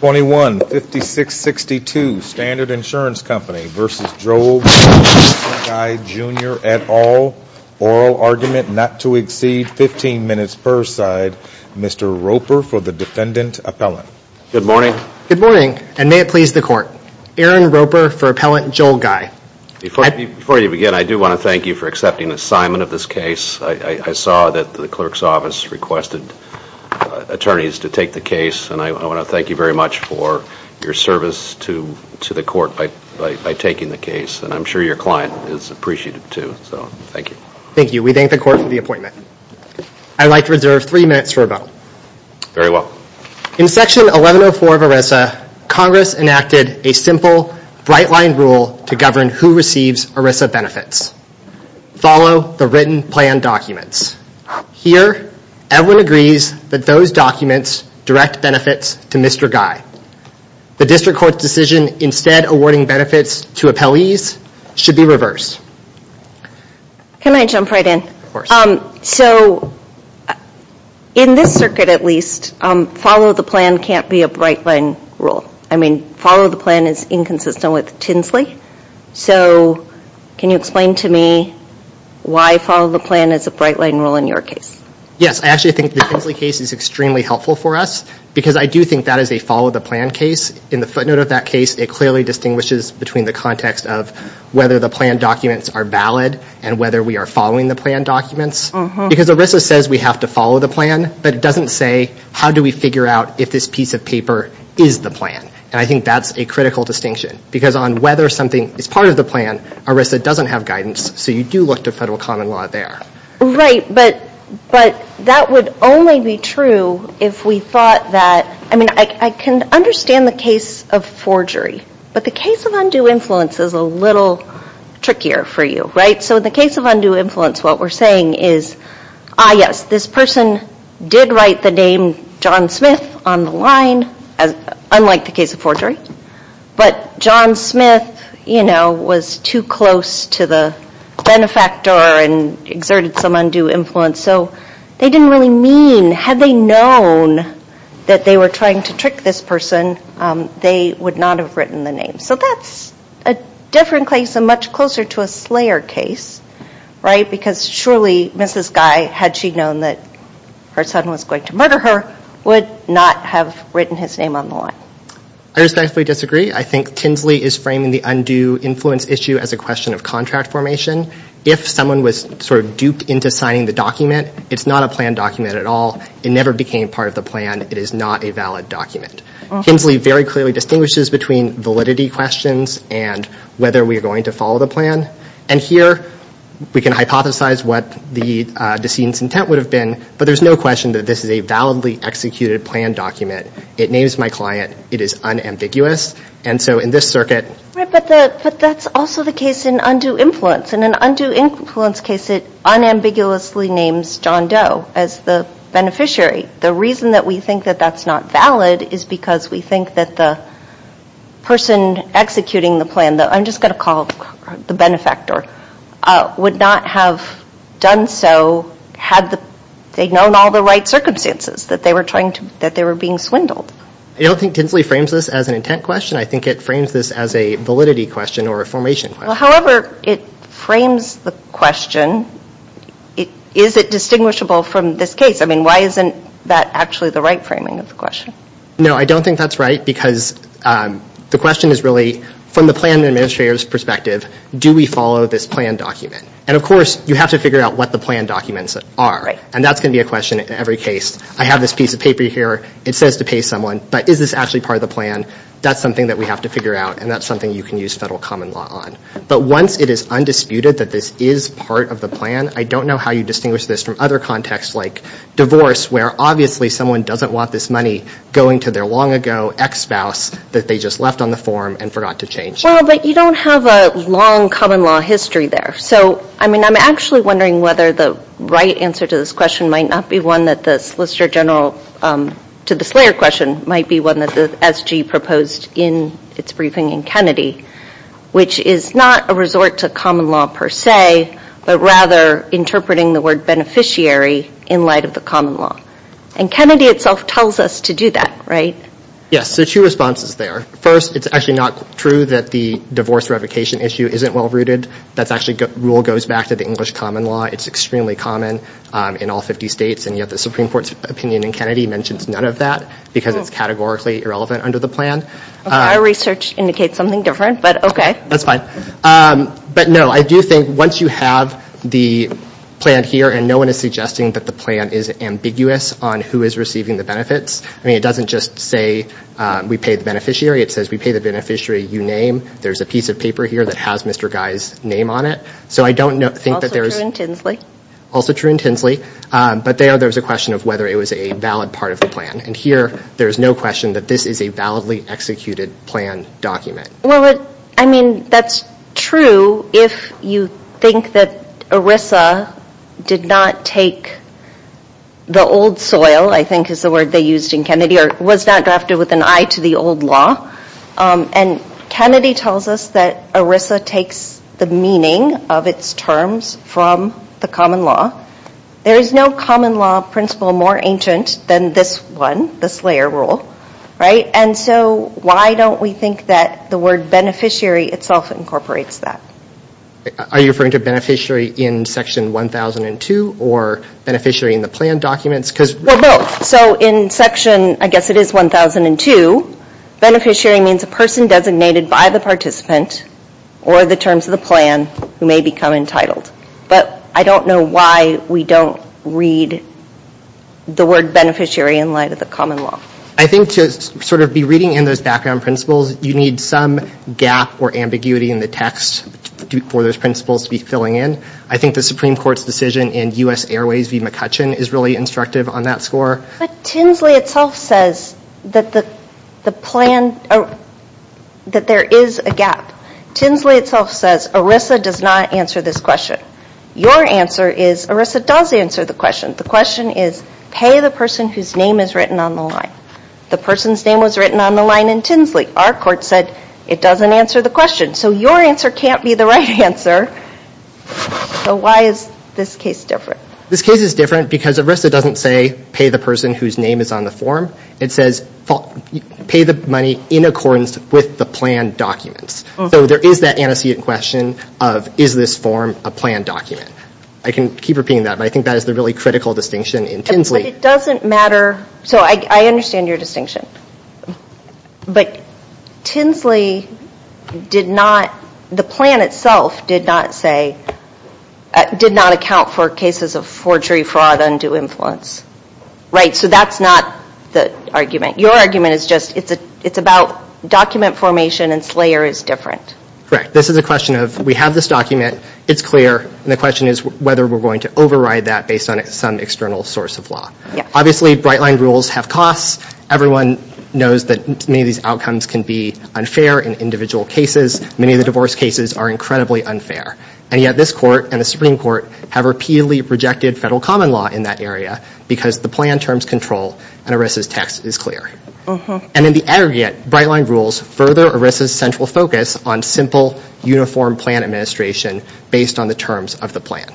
21-5662 Standard Insurance Company v. Joel Guy Jr. et al. Oral argument not to exceed 15 minutes per side. Mr. Roper for the Defendant Appellant. Good morning. Good morning, and may it please the Court. Aaron Roper for Appellant Joel Guy. Before you begin, I do want to thank you for accepting the assignment of this case. I saw that the Clerk's Office requested attorneys to take the case, and I want to thank you very much for your service to the Court by taking the case. And I'm sure your client is appreciative, too, so thank you. Thank you. We thank the Court for the appointment. I'd like to reserve three minutes for a vote. Very well. In Section 1104 of ERISA, Congress enacted a simple, bright-lined rule to govern who receives ERISA benefits. Follow the written, planned documents. Here, everyone agrees that those documents direct benefits to Mr. Guy. The District Court's decision instead awarding benefits to appellees should be reversed. Can I jump right in? So, in this circuit at least, follow the plan can't be a bright-lined rule. I mean, follow the plan is inconsistent with Tinsley. So, can you explain to me why follow the plan is a bright-lined rule in your case? Yes. I actually think the Tinsley case is extremely helpful for us, because I do think that is a follow-the-plan case. In the footnote of that case, it clearly distinguishes between the context of whether the planned documents are valid and whether we are following the planned documents. Because ERISA says we have to follow the plan, but it doesn't say, how do we figure out if this piece of paper is the plan? And I think that's a critical distinction. Because on whether something is part of the plan, ERISA doesn't have guidance, so you do look to federal common law there. Right, but that would only be true if we thought that, I mean, I can understand the case of forgery, but the case of undue influence is a little trickier for you, right? So, in the case of undue influence, what we're saying is, ah, yes, this person did write the name John Smith on the line, unlike the case of forgery, but John Smith, you know, was too close to the benefactor and exerted some undue influence, so they didn't really mean, had they known that they were trying to trick this person, they would not have written the name. So that's a different case and much closer to a Slayer case, right? Because surely Mrs. Guy, had she known that her son was going to murder her, would not have written his name on the line. I respectfully disagree. I think Kinsley is framing the undue influence issue as a question of contract formation. If someone was sort of duped into signing the document, it's not a planned document at all. It never became part of the plan. It is not a valid document. Kinsley very clearly distinguishes between validity questions and whether we are going to follow the plan. And here, we can hypothesize what the decedent's intent would have been, but there's no question that this is a validly executed planned document. It names my client. It is unambiguous. And so in this circuit. Right, but that's also the case in undue influence. In an undue influence case, it unambiguously names John Doe as the beneficiary. The reason that we think that that's not valid is because we think that the person executing the plan, I'm just going to call the benefactor, would not have done so had they known all the right circumstances, that they were being swindled. I don't think Kinsley frames this as an intent question. I think it frames this as a validity question or a formation question. However it frames the question, is it distinguishable from this case? I mean, why isn't that actually the right framing of the question? No, I don't think that's right because the question is really, from the plan administrator's perspective, do we follow this planned document? And, of course, you have to figure out what the planned documents are. And that's going to be a question in every case. I have this piece of paper here. It says to pay someone, but is this actually part of the plan? That's something that we have to figure out, and that's something you can use federal common law on. But once it is undisputed that this is part of the plan, I don't know how you distinguish this from other contexts like divorce, where obviously someone doesn't want this money going to their long-ago ex-spouse that they just left on the form and forgot to change. Well, but you don't have a long common law history there. So, I mean, I'm actually wondering whether the right answer to this question might not be one that the Solicitor General, to the Slayer question, might be one that the SG proposed in its briefing in Kennedy, which is not a resort to common law per se, but rather interpreting the word beneficiary in light of the common law. And Kennedy itself tells us to do that, right? Yes, so two responses there. First, it's actually not true that the divorce revocation issue isn't well-rooted. That actually rule goes back to the English common law. It's extremely common in all 50 states, and yet the Supreme Court's opinion in Kennedy mentions none of that because it's categorically irrelevant under the plan. Our research indicates something different, but okay. That's fine. But, no, I do think once you have the plan here and no one is suggesting that the plan is ambiguous on who is receiving the benefits, I mean, it doesn't just say we pay the beneficiary. It says we pay the beneficiary you name. There's a piece of paper here that has Mr. Guy's name on it. Also true in Tinsley. Also true in Tinsley. But there there's a question of whether it was a valid part of the plan. And here there's no question that this is a validly executed plan document. Well, I mean, that's true if you think that ERISA did not take the old soil, I think is the word they used in Kennedy, or was not drafted with an eye to the old law. And Kennedy tells us that ERISA takes the meaning of its terms from the common law. There is no common law principle more ancient than this one, the Slayer Rule. And so why don't we think that the word beneficiary itself incorporates that? Are you referring to beneficiary in Section 1002 or beneficiary in the plan documents? Well, both. So in Section, I guess it is 1002, beneficiary means a person designated by the participant or the terms of the plan who may become entitled. But I don't know why we don't read the word beneficiary in light of the common law. I think to sort of be reading in those background principles, you need some gap or ambiguity in the text for those principles to be filling in. I think the Supreme Court's decision in U.S. Airways v. McCutcheon is really instructive on that score. But Tinsley itself says that there is a gap. Tinsley itself says ERISA does not answer this question. Your answer is ERISA does answer the question. The question is pay the person whose name is written on the line. The person's name was written on the line in Tinsley. Our court said it doesn't answer the question. So your answer can't be the right answer. So why is this case different? This case is different because ERISA doesn't say pay the person whose name is on the form. It says pay the money in accordance with the plan documents. So there is that antecedent question of is this form a plan document. I can keep repeating that, but I think that is the really critical distinction in Tinsley. But it doesn't matter. So I understand your distinction. But Tinsley did not, the plan itself did not say, did not account for cases of forgery, fraud, undue influence. Right, so that's not the argument. Your argument is just it's about document formation and Slayer is different. Correct. This is a question of we have this document, it's clear, and the question is whether we're going to override that based on some external source of law. Obviously, Brightline rules have costs. Everyone knows that many of these outcomes can be unfair in individual cases. Many of the divorce cases are incredibly unfair. And yet this court and the Supreme Court have repeatedly rejected federal common law in that area because the plan terms control and ERISA's text is clear. And in the aggregate, Brightline rules further ERISA's central focus on simple, uniform plan administration based on the terms of the plan.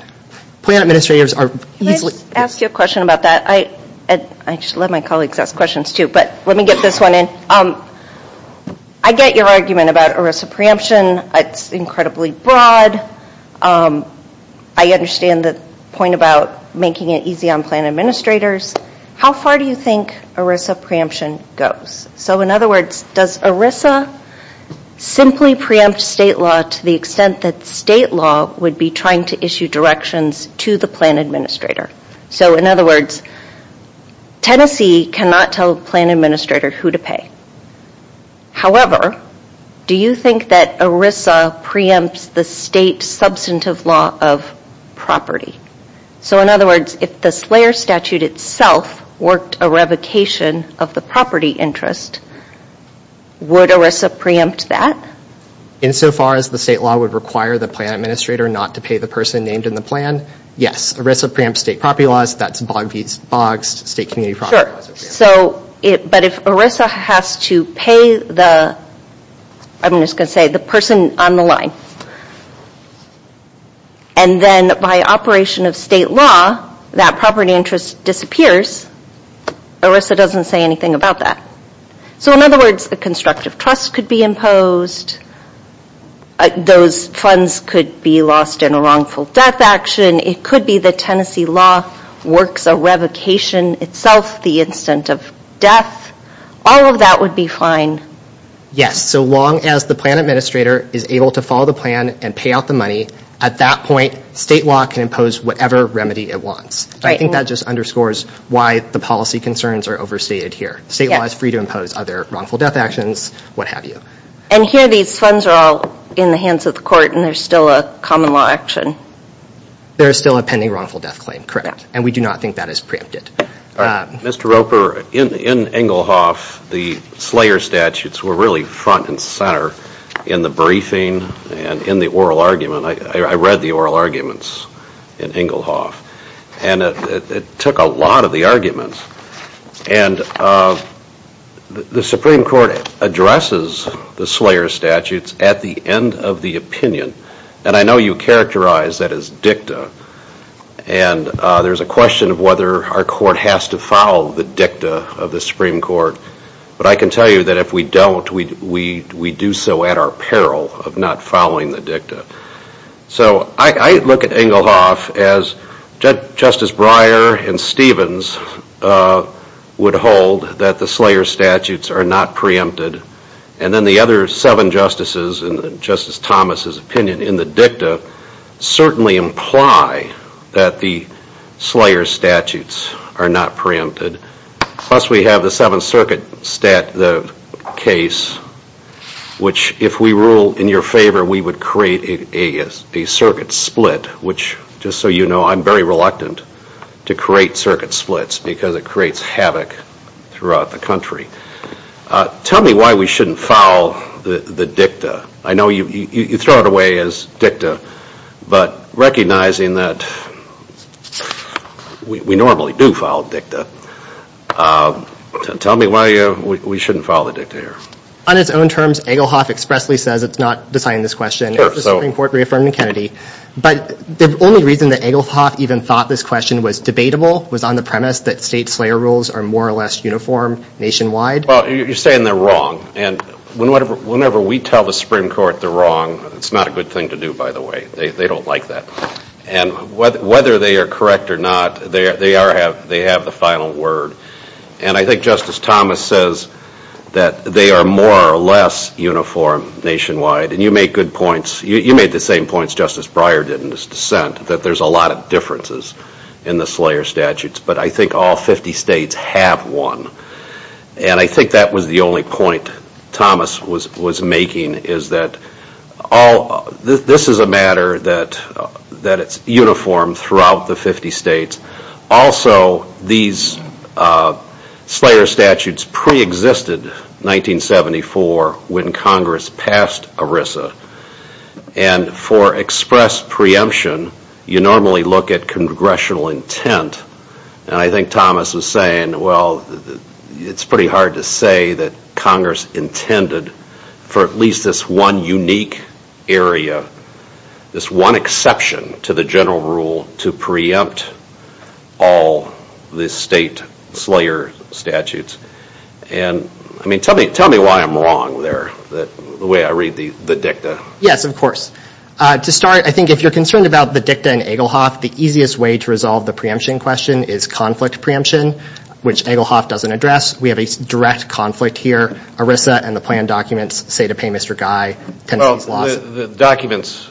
Plan administrators are easily- Can I ask you a question about that? I just let my colleagues ask questions, too. But let me get this one in. I get your argument about ERISA preemption. It's incredibly broad. I understand the point about making it easy on plan administrators. How far do you think ERISA preemption goes? So, in other words, does ERISA simply preempt state law to the extent that state law would be trying to issue directions to the plan administrator? So, in other words, Tennessee cannot tell a plan administrator who to pay. However, do you think that ERISA preempts the state substantive law of property? So, in other words, if the Slayer Statute itself worked a revocation of the property interest, would ERISA preempt that? Insofar as the state law would require the plan administrator not to pay the person named in the plan, yes. ERISA preempts state property laws. That's bogged state community property laws. But if ERISA has to pay the person on the line, and then by operation of state law, that property interest disappears, ERISA doesn't say anything about that. So, in other words, a constructive trust could be imposed. Those funds could be lost in a wrongful death action. It could be that Tennessee law works a revocation itself, the instant of death. All of that would be fine. Yes, so long as the plan administrator is able to follow the plan and pay out the money, at that point, state law can impose whatever remedy it wants. I think that just underscores why the policy concerns are overstated here. State law is free to impose other wrongful death actions, what have you. And here, these funds are all in the hands of the court, and there's still a common law action. There is still a pending wrongful death claim, correct. And we do not think that is preempted. Mr. Roper, in Engelhoff, the Slayer statutes were really front and center in the briefing and in the oral argument. I read the oral arguments in Engelhoff, and it took a lot of the arguments. And the Supreme Court addresses the Slayer statutes at the end of the opinion. And I know you characterize that as dicta. And there's a question of whether our court has to follow the dicta of the Supreme Court. But I can tell you that if we don't, we do so at our peril of not following the dicta. So I look at Engelhoff as Justice Breyer and Stevens would hold that the Slayer statutes are not preempted. And then the other seven justices in Justice Thomas's opinion in the dicta certainly imply that the Slayer statutes are not preempted. Plus, we have the Seventh Circuit case, which if we rule in your favor, we would create a circuit split, which, just so you know, I'm very reluctant to create circuit splits because it creates havoc throughout the country. Tell me why we shouldn't follow the dicta. I know you throw it away as dicta, but recognizing that we normally do follow dicta, tell me why we shouldn't follow the dicta here. On its own terms, Engelhoff expressly says it's not deciding this question. It's the Supreme Court reaffirming Kennedy. But the only reason that Engelhoff even thought this question was debatable was on the premise that state Slayer rules are more or less uniform nationwide. Well, you're saying they're wrong. And whenever we tell the Supreme Court they're wrong, it's not a good thing to do, by the way. They don't like that. And whether they are correct or not, they have the final word. And I think Justice Thomas says that they are more or less uniform nationwide. And you make good points. You made the same points Justice Breyer did in his dissent, that there's a lot of differences in the Slayer statutes. But I think all 50 states have one. And I think that was the only point Thomas was making, is that this is a matter that it's uniform throughout the 50 states. Also, these Slayer statutes preexisted 1974 when Congress passed ERISA. And for express preemption, you normally look at congressional intent. And I think Thomas was saying, well, it's pretty hard to say that Congress intended for at least this one unique area, this one exception to the general rule to preempt all the state Slayer statutes. And, I mean, tell me why I'm wrong there, the way I read the dicta. Yes, of course. To start, I think if you're concerned about the dicta in Egelhoff, the easiest way to resolve the preemption question is conflict preemption, which Egelhoff doesn't address. We have a direct conflict here. ERISA and the plan documents say to pay Mr. Guy Tennessee's loss. The documents,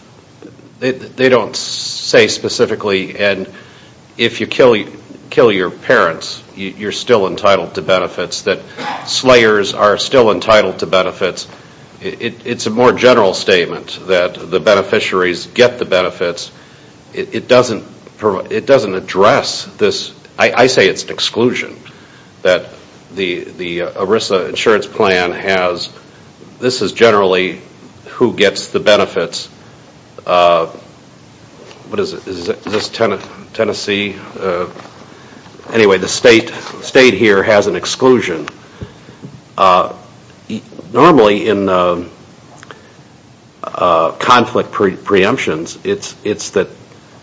they don't say specifically, and if you kill your parents, you're still entitled to benefits, that Slayers are still entitled to benefits. It's a more general statement that the beneficiaries get the benefits. It doesn't address this. I say it's an exclusion, that the ERISA insurance plan has, this is generally who gets the benefits. What is it? Is this Tennessee? Anyway, the state here has an exclusion. Normally in conflict preemptions, it's that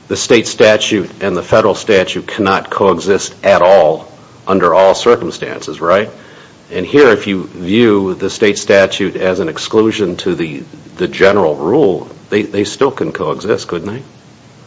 the state statute and the federal statute cannot coexist at all under all circumstances, right? And here, if you view the state statute as an exclusion to the general rule, they still can coexist, couldn't they?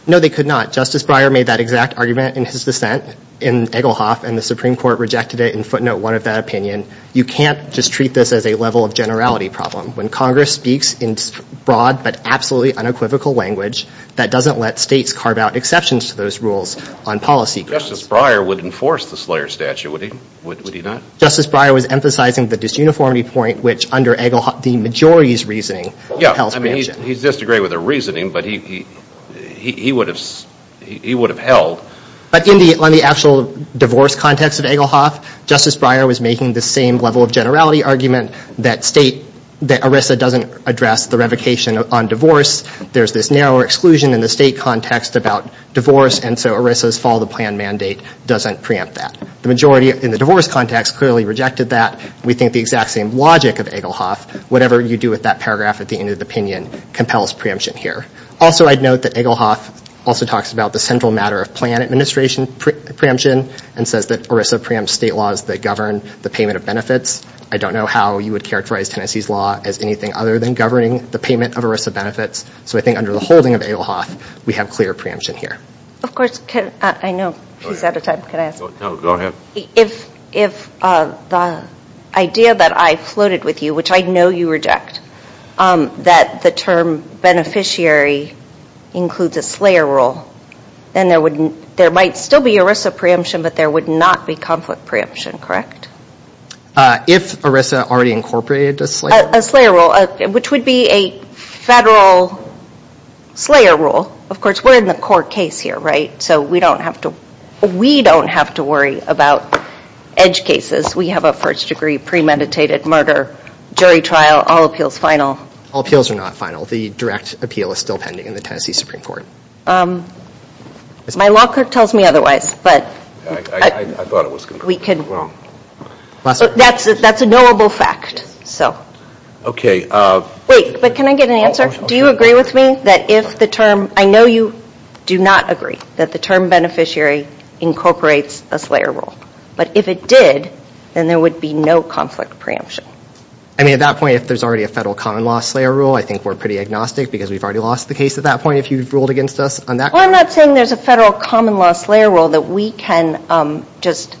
No, they could not. Justice Breyer made that exact argument in his dissent in Egelhoff, and the Supreme Court rejected it in footnote one of that opinion. You can't just treat this as a level of generality problem. When Congress speaks in broad but absolutely unequivocal language, that doesn't let states carve out exceptions to those rules on policy grounds. Justice Breyer would enforce the Slayers statute, would he not? Justice Breyer was emphasizing the disuniformity point, which under Egelhoff, the majority's reasoning held. Yeah, I mean, he's disagreeing with their reasoning, but he would have held. But on the actual divorce context of Egelhoff, Justice Breyer was making the same level of generality argument that ERISA doesn't address the revocation on divorce. There's this narrower exclusion in the state context about divorce, and so ERISA's follow the plan mandate doesn't preempt that. The majority in the divorce context clearly rejected that. We think the exact same logic of Egelhoff, whatever you do with that paragraph at the end of the opinion compels preemption here. Also, I'd note that Egelhoff also talks about the central matter of plan administration preemption and says that ERISA preempts state laws that govern the payment of benefits. I don't know how you would characterize Tennessee's law as anything other than governing the payment of ERISA benefits, so I think under the holding of Egelhoff, we have clear preemption here. Of course, I know he's out of time. If the idea that I floated with you, which I know you reject, that the term beneficiary includes a slayer rule, then there might still be ERISA preemption, but there would not be conflict preemption, correct? If ERISA already incorporated a slayer rule. A slayer rule, which would be a federal slayer rule. Of course, we're in the court case here, right? So we don't have to worry about edge cases. We have a first degree premeditated murder jury trial, all appeals final. All appeals are not final. The direct appeal is still pending in the Tennessee Supreme Court. My law clerk tells me otherwise. I thought it was going to be wrong. That's a knowable fact. Okay. Wait, but can I get an answer? Do you agree with me that if the term, I know you do not agree that the term beneficiary incorporates a slayer rule. But if it did, then there would be no conflict preemption. I mean, at that point, if there's already a federal common law slayer rule, I think we're pretty agnostic because we've already lost the case at that point. If you've ruled against us on that. I'm not saying there's a federal common law slayer rule that we can just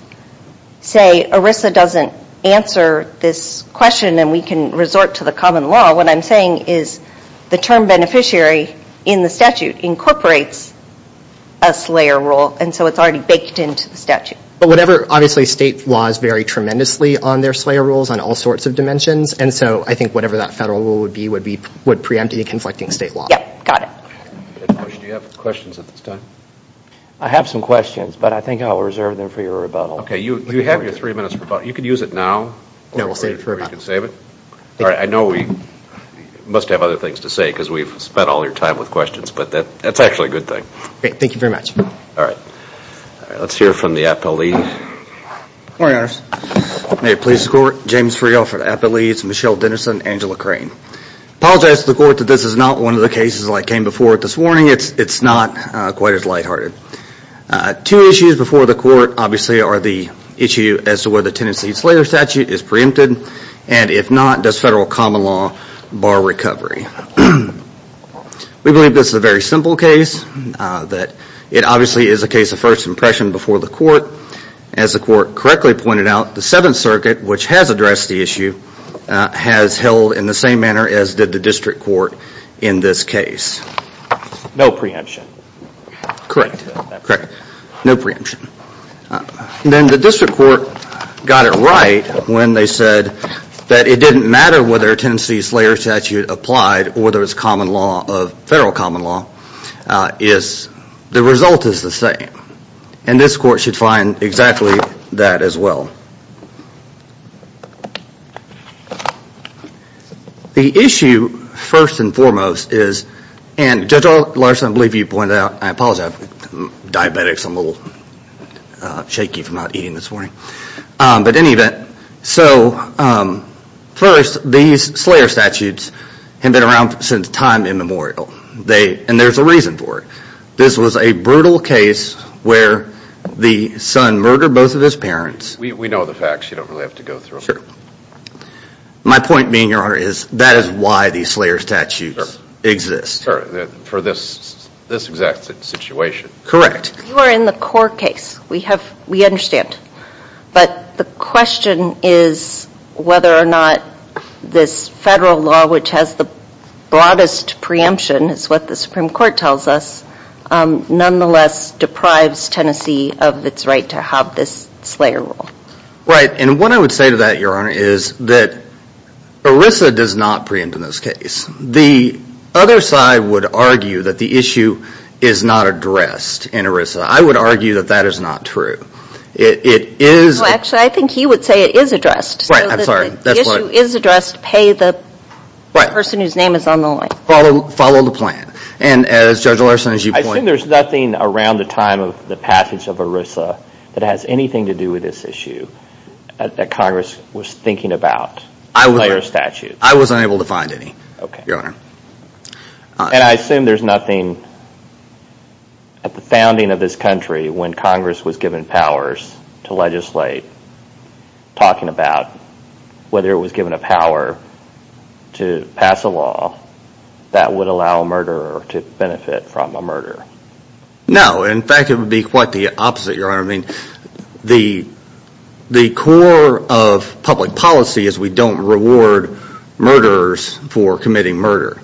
say ERISA doesn't answer this question and we can resort to the common law. What I'm saying is the term beneficiary in the statute incorporates a slayer rule, and so it's already baked into the statute. But whatever, obviously state laws vary tremendously on their slayer rules on all sorts of dimensions, and so I think whatever that federal rule would be would preempt any conflicting state law. Yep, got it. Do you have questions at this time? I have some questions, but I think I will reserve them for your rebuttal. Okay, you have your three minutes for rebuttal. You can use it now. No, we'll save it for rebuttal. Or you can save it. All right, I know we must have other things to say because we've spent all your time with questions, but that's actually a good thing. Thank you very much. All right. Let's hear from the Appellate Lead. Good morning, Your Honor. May it please the Court. James Friel for the Appellate Leads, Michelle Dennison, Angela Crane. Apologize to the Court that this is not one of the cases that came before it this morning. It's not quite as lighthearted. Two issues before the Court, obviously, are the issue as to whether the Tenancy Slayer Statute is preempted, and if not, does federal common law bar recovery? We believe this is a very simple case. It obviously is a case of first impression before the Court. As the Court correctly pointed out, the Seventh Circuit, which has addressed the issue, has held in the same manner as did the District Court in this case. No preemption. No preemption. Then the District Court got it right when they said that it didn't matter whether Tenancy Slayer Statute applied or there was federal common law, the result is the same. And this Court should find exactly that as well. The issue, first and foremost, is, and Judge Larson, I believe you pointed out, I apologize, I'm diabetic so I'm a little shaky from not eating this morning, but in any event, so first, these Slayer Statutes have been around since time immemorial. And there's a reason for it. This was a brutal case where the son murdered both of his parents. We know the facts. You don't really have to go through them. My point being, Your Honor, is that is why these Slayer Statutes exist. For this exact situation. Correct. You are in the core case. We understand. But the question is whether or not this federal law, which has the broadest preemption, is what the Supreme Court tells us, nonetheless deprives Tenancy of its right to have this Slayer Rule. Right, and what I would say to that, Your Honor, is that ERISA does not preempt in this case. The other side would argue that the issue is not addressed in ERISA. I would argue that that is not true. It is. Actually, I think he would say it is addressed. Right, I'm sorry. The issue is addressed, pay the person whose name is on the line. Follow the plan. And as Judge Larson, as you point out. I assume there's nothing around the time of the passage of ERISA that has anything to do with this issue that Congress was thinking about in Slayer Statutes. I was unable to find any, Your Honor. And I assume there's nothing at the founding of this country when Congress was given powers to legislate talking about whether it was given a power to pass a law that would allow a murderer to benefit from a murder. No, in fact it would be quite the opposite, Your Honor. The core of public policy is we don't reward murderers for committing murder.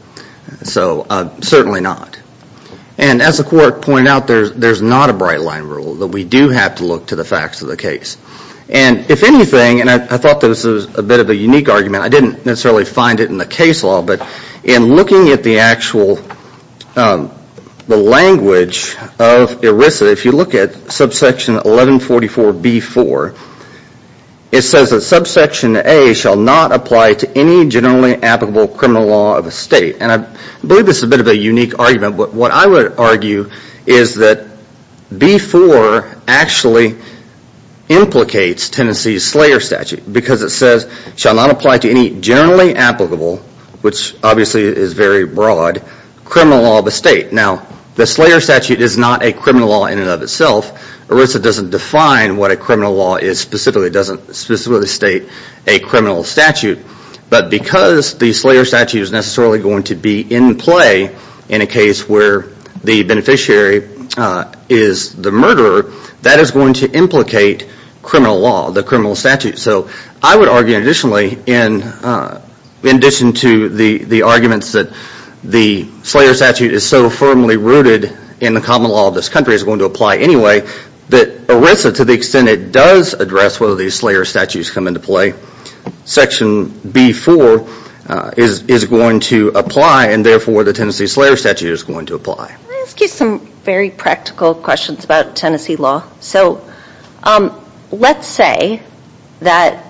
So, certainly not. And as the court pointed out, there's not a bright line rule. We do have to look to the facts of the case. And if anything, and I thought this was a bit of a unique argument. I didn't necessarily find it in the case law, but in looking at the actual language of ERISA, if you look at subsection 1144B4, it says that subsection A shall not apply to any generally applicable criminal law of a state. And I believe this is a bit of a unique argument. But what I would argue is that B4 actually implicates Tennessee's Slayer Statute because it says it shall not apply to any generally applicable, which obviously is very broad, criminal law of a state. Now, the Slayer Statute is not a criminal law in and of itself. ERISA doesn't define what a criminal law is specifically. It doesn't specifically state a criminal statute. But because the Slayer Statute is necessarily going to be in play in a case where the beneficiary is the murderer, that is going to implicate criminal law, the criminal statute. So I would argue additionally, in addition to the arguments that the Slayer Statute is so firmly rooted in the common law of this country, it's going to apply anyway, that ERISA, to the extent it does address whether these Slayer Statutes come into play, section B4 is going to apply, and therefore the Tennessee Slayer Statute is going to apply. Can I ask you some very practical questions about Tennessee law? So let's say that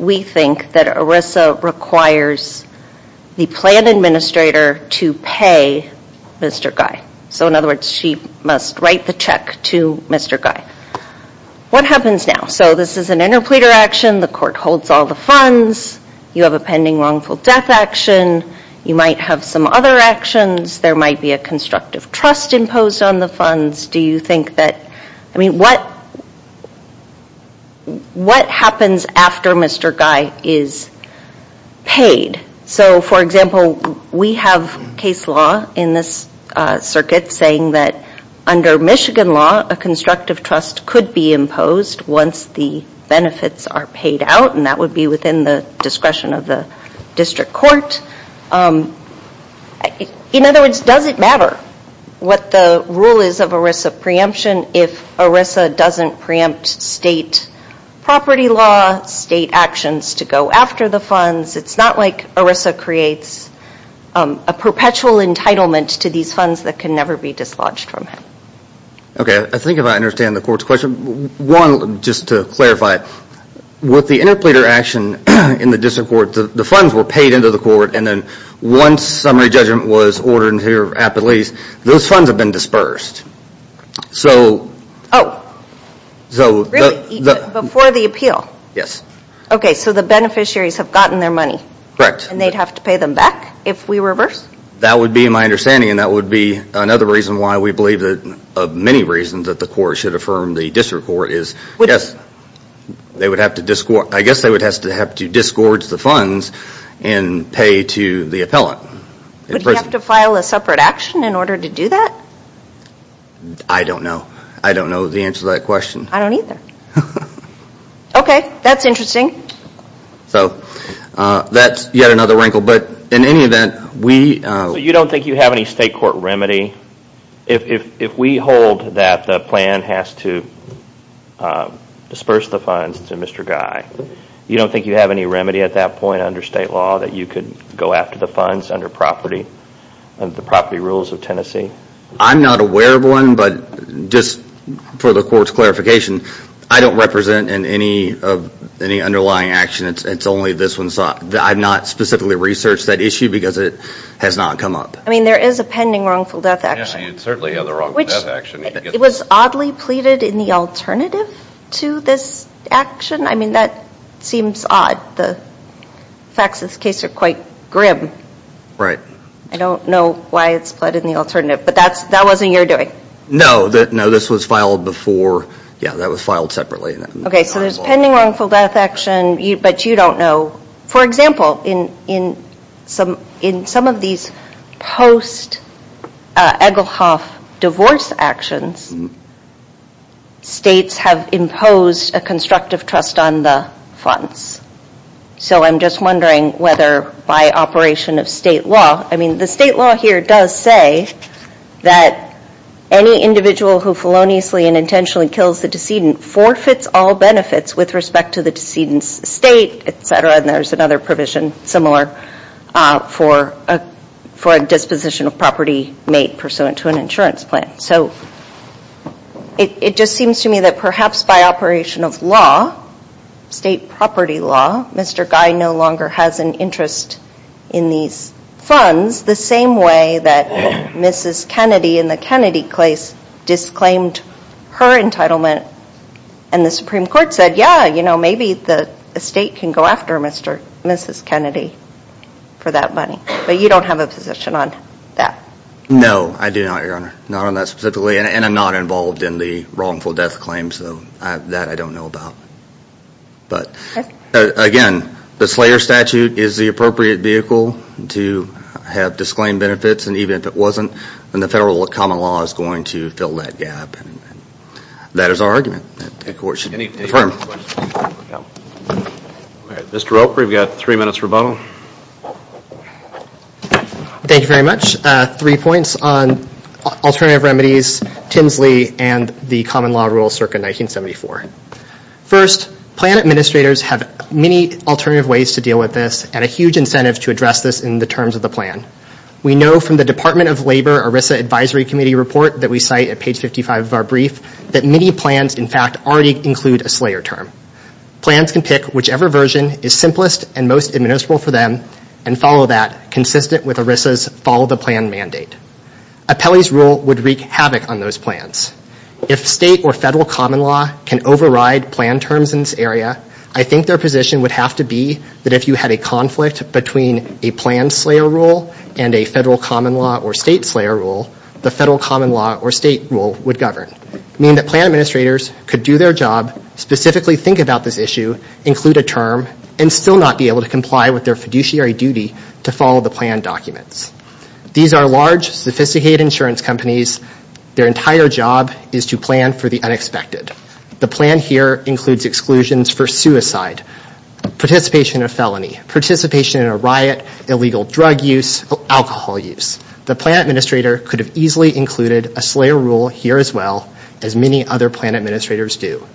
we think that ERISA requires the plan administrator to pay Mr. Guy. So in other words, she must write the check to Mr. Guy. What happens now? So this is an interpleader action. The court holds all the funds. You have a pending wrongful death action. You might have some other actions. There might be a constructive trust imposed on the funds. Do you think that, I mean, what happens after Mr. Guy is paid? So, for example, we have case law in this circuit saying that under Michigan law, a constructive trust could be imposed once the benefits are paid out, and that would be within the discretion of the district court. In other words, does it matter what the rule is of ERISA preemption if ERISA doesn't preempt state property law, state actions to go after the funds? It's not like ERISA creates a perpetual entitlement to these funds that can never be dislodged from it. Okay, I think I understand the court's question. One, just to clarify, with the interpleader action in the district court, the funds were paid into the court, and then once summary judgment was ordered into your appellate lease, those funds have been dispersed. Oh, really? Before the appeal? Yes. Okay, so the beneficiaries have gotten their money. Correct. And they'd have to pay them back if we reverse? That would be my understanding, and that would be another reason why we believe that, of many reasons that the court should affirm the district court, is I guess they would have to discord the funds and pay to the appellate. Would he have to file a separate action in order to do that? I don't know. I don't know the answer to that question. I don't either. Okay, that's interesting. So that's yet another wrinkle, but in any event, we... So you don't think you have any state court remedy? If we hold that the plan has to disperse the funds to Mr. Guy, you don't think you have any remedy at that point under state law that you could go after the funds under the property rules of Tennessee? I'm not aware of one, but just for the court's clarification, I don't represent in any underlying action, it's only this one. I've not specifically researched that issue because it has not come up. I mean, there is a pending wrongful death action. Yeah, you'd certainly have the wrongful death action. It was oddly pleaded in the alternative to this action. I mean, that seems odd. The facts of this case are quite grim. Right. I don't know why it's pleaded in the alternative, but that wasn't your doing? No, this was filed before. Yeah, that was filed separately. Okay, so there's pending wrongful death action, but you don't know. For example, in some of these post-Egelhoff divorce actions, states have imposed a constructive trust on the funds. So I'm just wondering whether by operation of state law, I mean, the state law here does say that any individual who feloniously and intentionally kills the decedent forfeits all benefits with respect to the decedent's state, etc., and there's another provision similar for a disposition of property made pursuant to an insurance plan. So it just seems to me that perhaps by operation of law, state property law, Mr. Guy no longer has an interest in these funds the same way that Mrs. Kennedy in the Kennedy case disclaimed her entitlement and the Supreme Court said, yeah, you know, maybe the state can go after Mrs. Kennedy for that money. But you don't have a position on that? No, I do not, Your Honor, not on that specifically, and I'm not involved in the wrongful death claim, so that I don't know about. But again, the Slayer Statute is the appropriate vehicle to have disclaimed benefits, and even if it wasn't, then the federal common law is going to fill that gap. That is our argument that the court should affirm. Mr. Roper, we've got three minutes for rebuttal. Thank you very much. Three points on alternative remedies, Tinsley, and the common law rule circa 1974. First, plan administrators have many alternative ways to deal with this and a huge incentive to address this in the terms of the plan. We know from the Department of Labor ERISA Advisory Committee report that we cite at page 55 of our brief that many plans, in fact, already include a Slayer term. Plans can pick whichever version is simplest and most admissible for them and follow that consistent with ERISA's follow the plan mandate. Appellee's rule would wreak havoc on those plans. If state or federal common law can override plan terms in this area, I think their position would have to be that if you had a conflict between a planned Slayer rule and a federal common law or state Slayer rule, the federal common law or state rule would govern. It would mean that plan administrators could do their job, specifically think about this issue, include a term, and still not be able to comply with their fiduciary duty to follow the plan documents. These are large, sophisticated insurance companies. Their entire job is to plan for the unexpected. The plan here includes exclusions for suicide, participation in a felony, participation in a riot, illegal drug use, alcohol use. The plan administrator could have easily included a Slayer rule here as well as many other plan administrators do.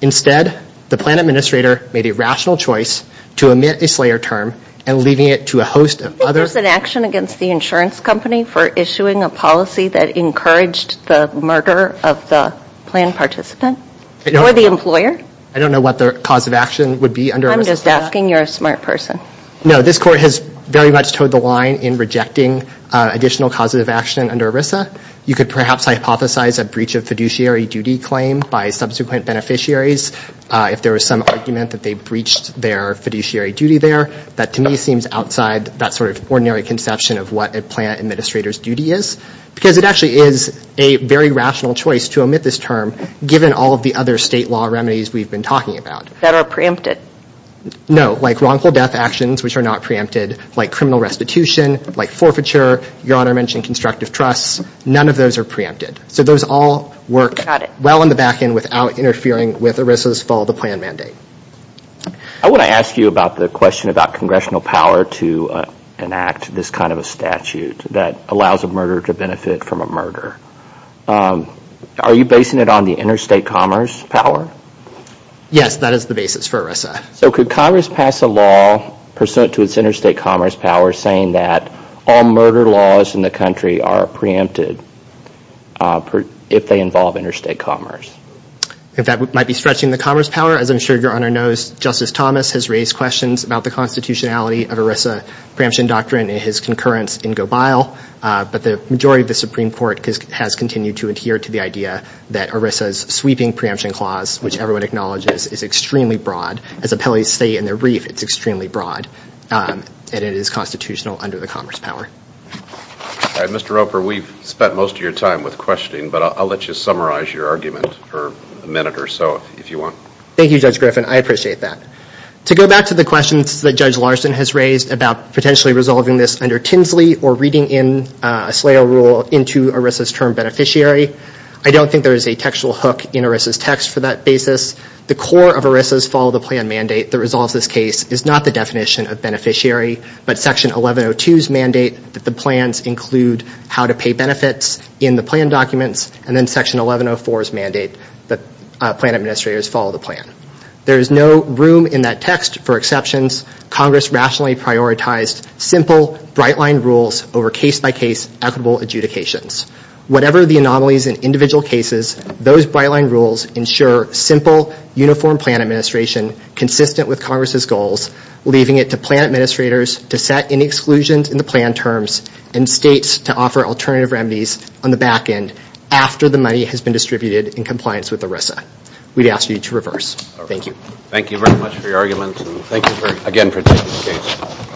Instead, the plan administrator made a rational choice to omit a Slayer term and leaving it to a host of other... I think there's an action against the insurance company for issuing a policy that encouraged the murder of the plan participant or the employer. I don't know what the cause of action would be under ERISA's law. I'm just asking. You're a smart person. No, this court has very much toed the line in rejecting additional causative action under ERISA. You could perhaps hypothesize a breach of fiduciary duty claim by subsequent beneficiaries if there was some argument that they breached their fiduciary duty there. That, to me, seems outside that sort of ordinary conception of what a plan administrator's duty is because it actually is a very rational choice to omit this term given all of the other state law remedies we've been talking about. That are preempted? No, like wrongful death actions, which are not preempted, like criminal restitution, like forfeiture. Your Honor mentioned constructive trusts. None of those are preempted. So those all work well in the back end without interfering with ERISA's follow-the-plan mandate. I want to ask you about the question about congressional power to enact this kind of a statute that allows a murderer to benefit from a murder. Are you basing it on the interstate commerce power? Yes, that is the basis for ERISA. So could Congress pass a law pursuant to its interstate commerce power saying that all murder laws in the country are preempted if they involve interstate commerce? That might be stretching the commerce power. As I'm sure Your Honor knows, Justice Thomas has raised questions about the constitutionality of ERISA preemption doctrine in his concurrence in Gobile. But the majority of the Supreme Court has continued to adhere to the idea that ERISA's sweeping preemption clause, which everyone acknowledges, is extremely broad. As appellees say in their brief, it's extremely broad, and it is constitutional under the commerce power. Mr. Roper, we've spent most of your time with questioning, but I'll let you summarize your argument for a minute or so, if you want. Thank you, Judge Griffin. I appreciate that. To go back to the questions that Judge Larson has raised about potentially resolving this under Tinsley or reading in a SLAO rule into ERISA's term beneficiary, I don't think there is a textual hook in ERISA's text for that basis. The core of ERISA's follow-the-plan mandate that resolves this case is not the definition of beneficiary, but Section 1102's mandate that the plans include how to pay benefits in the plan documents, and then Section 1104's mandate that plan administrators follow the plan. There is no room in that text for exceptions. Congress rationally prioritized simple, bright-line rules over case-by-case equitable adjudications. Whatever the anomalies in individual cases, those bright-line rules ensure simple, uniform plan administration consistent with Congress's goals, leaving it to plan administrators to set any exclusions in the plan terms and states to offer alternative remedies on the back end after the money has been distributed in compliance with ERISA. We'd ask you to reverse. Thank you. Thank you very much for your argument, and thank you again for taking the case.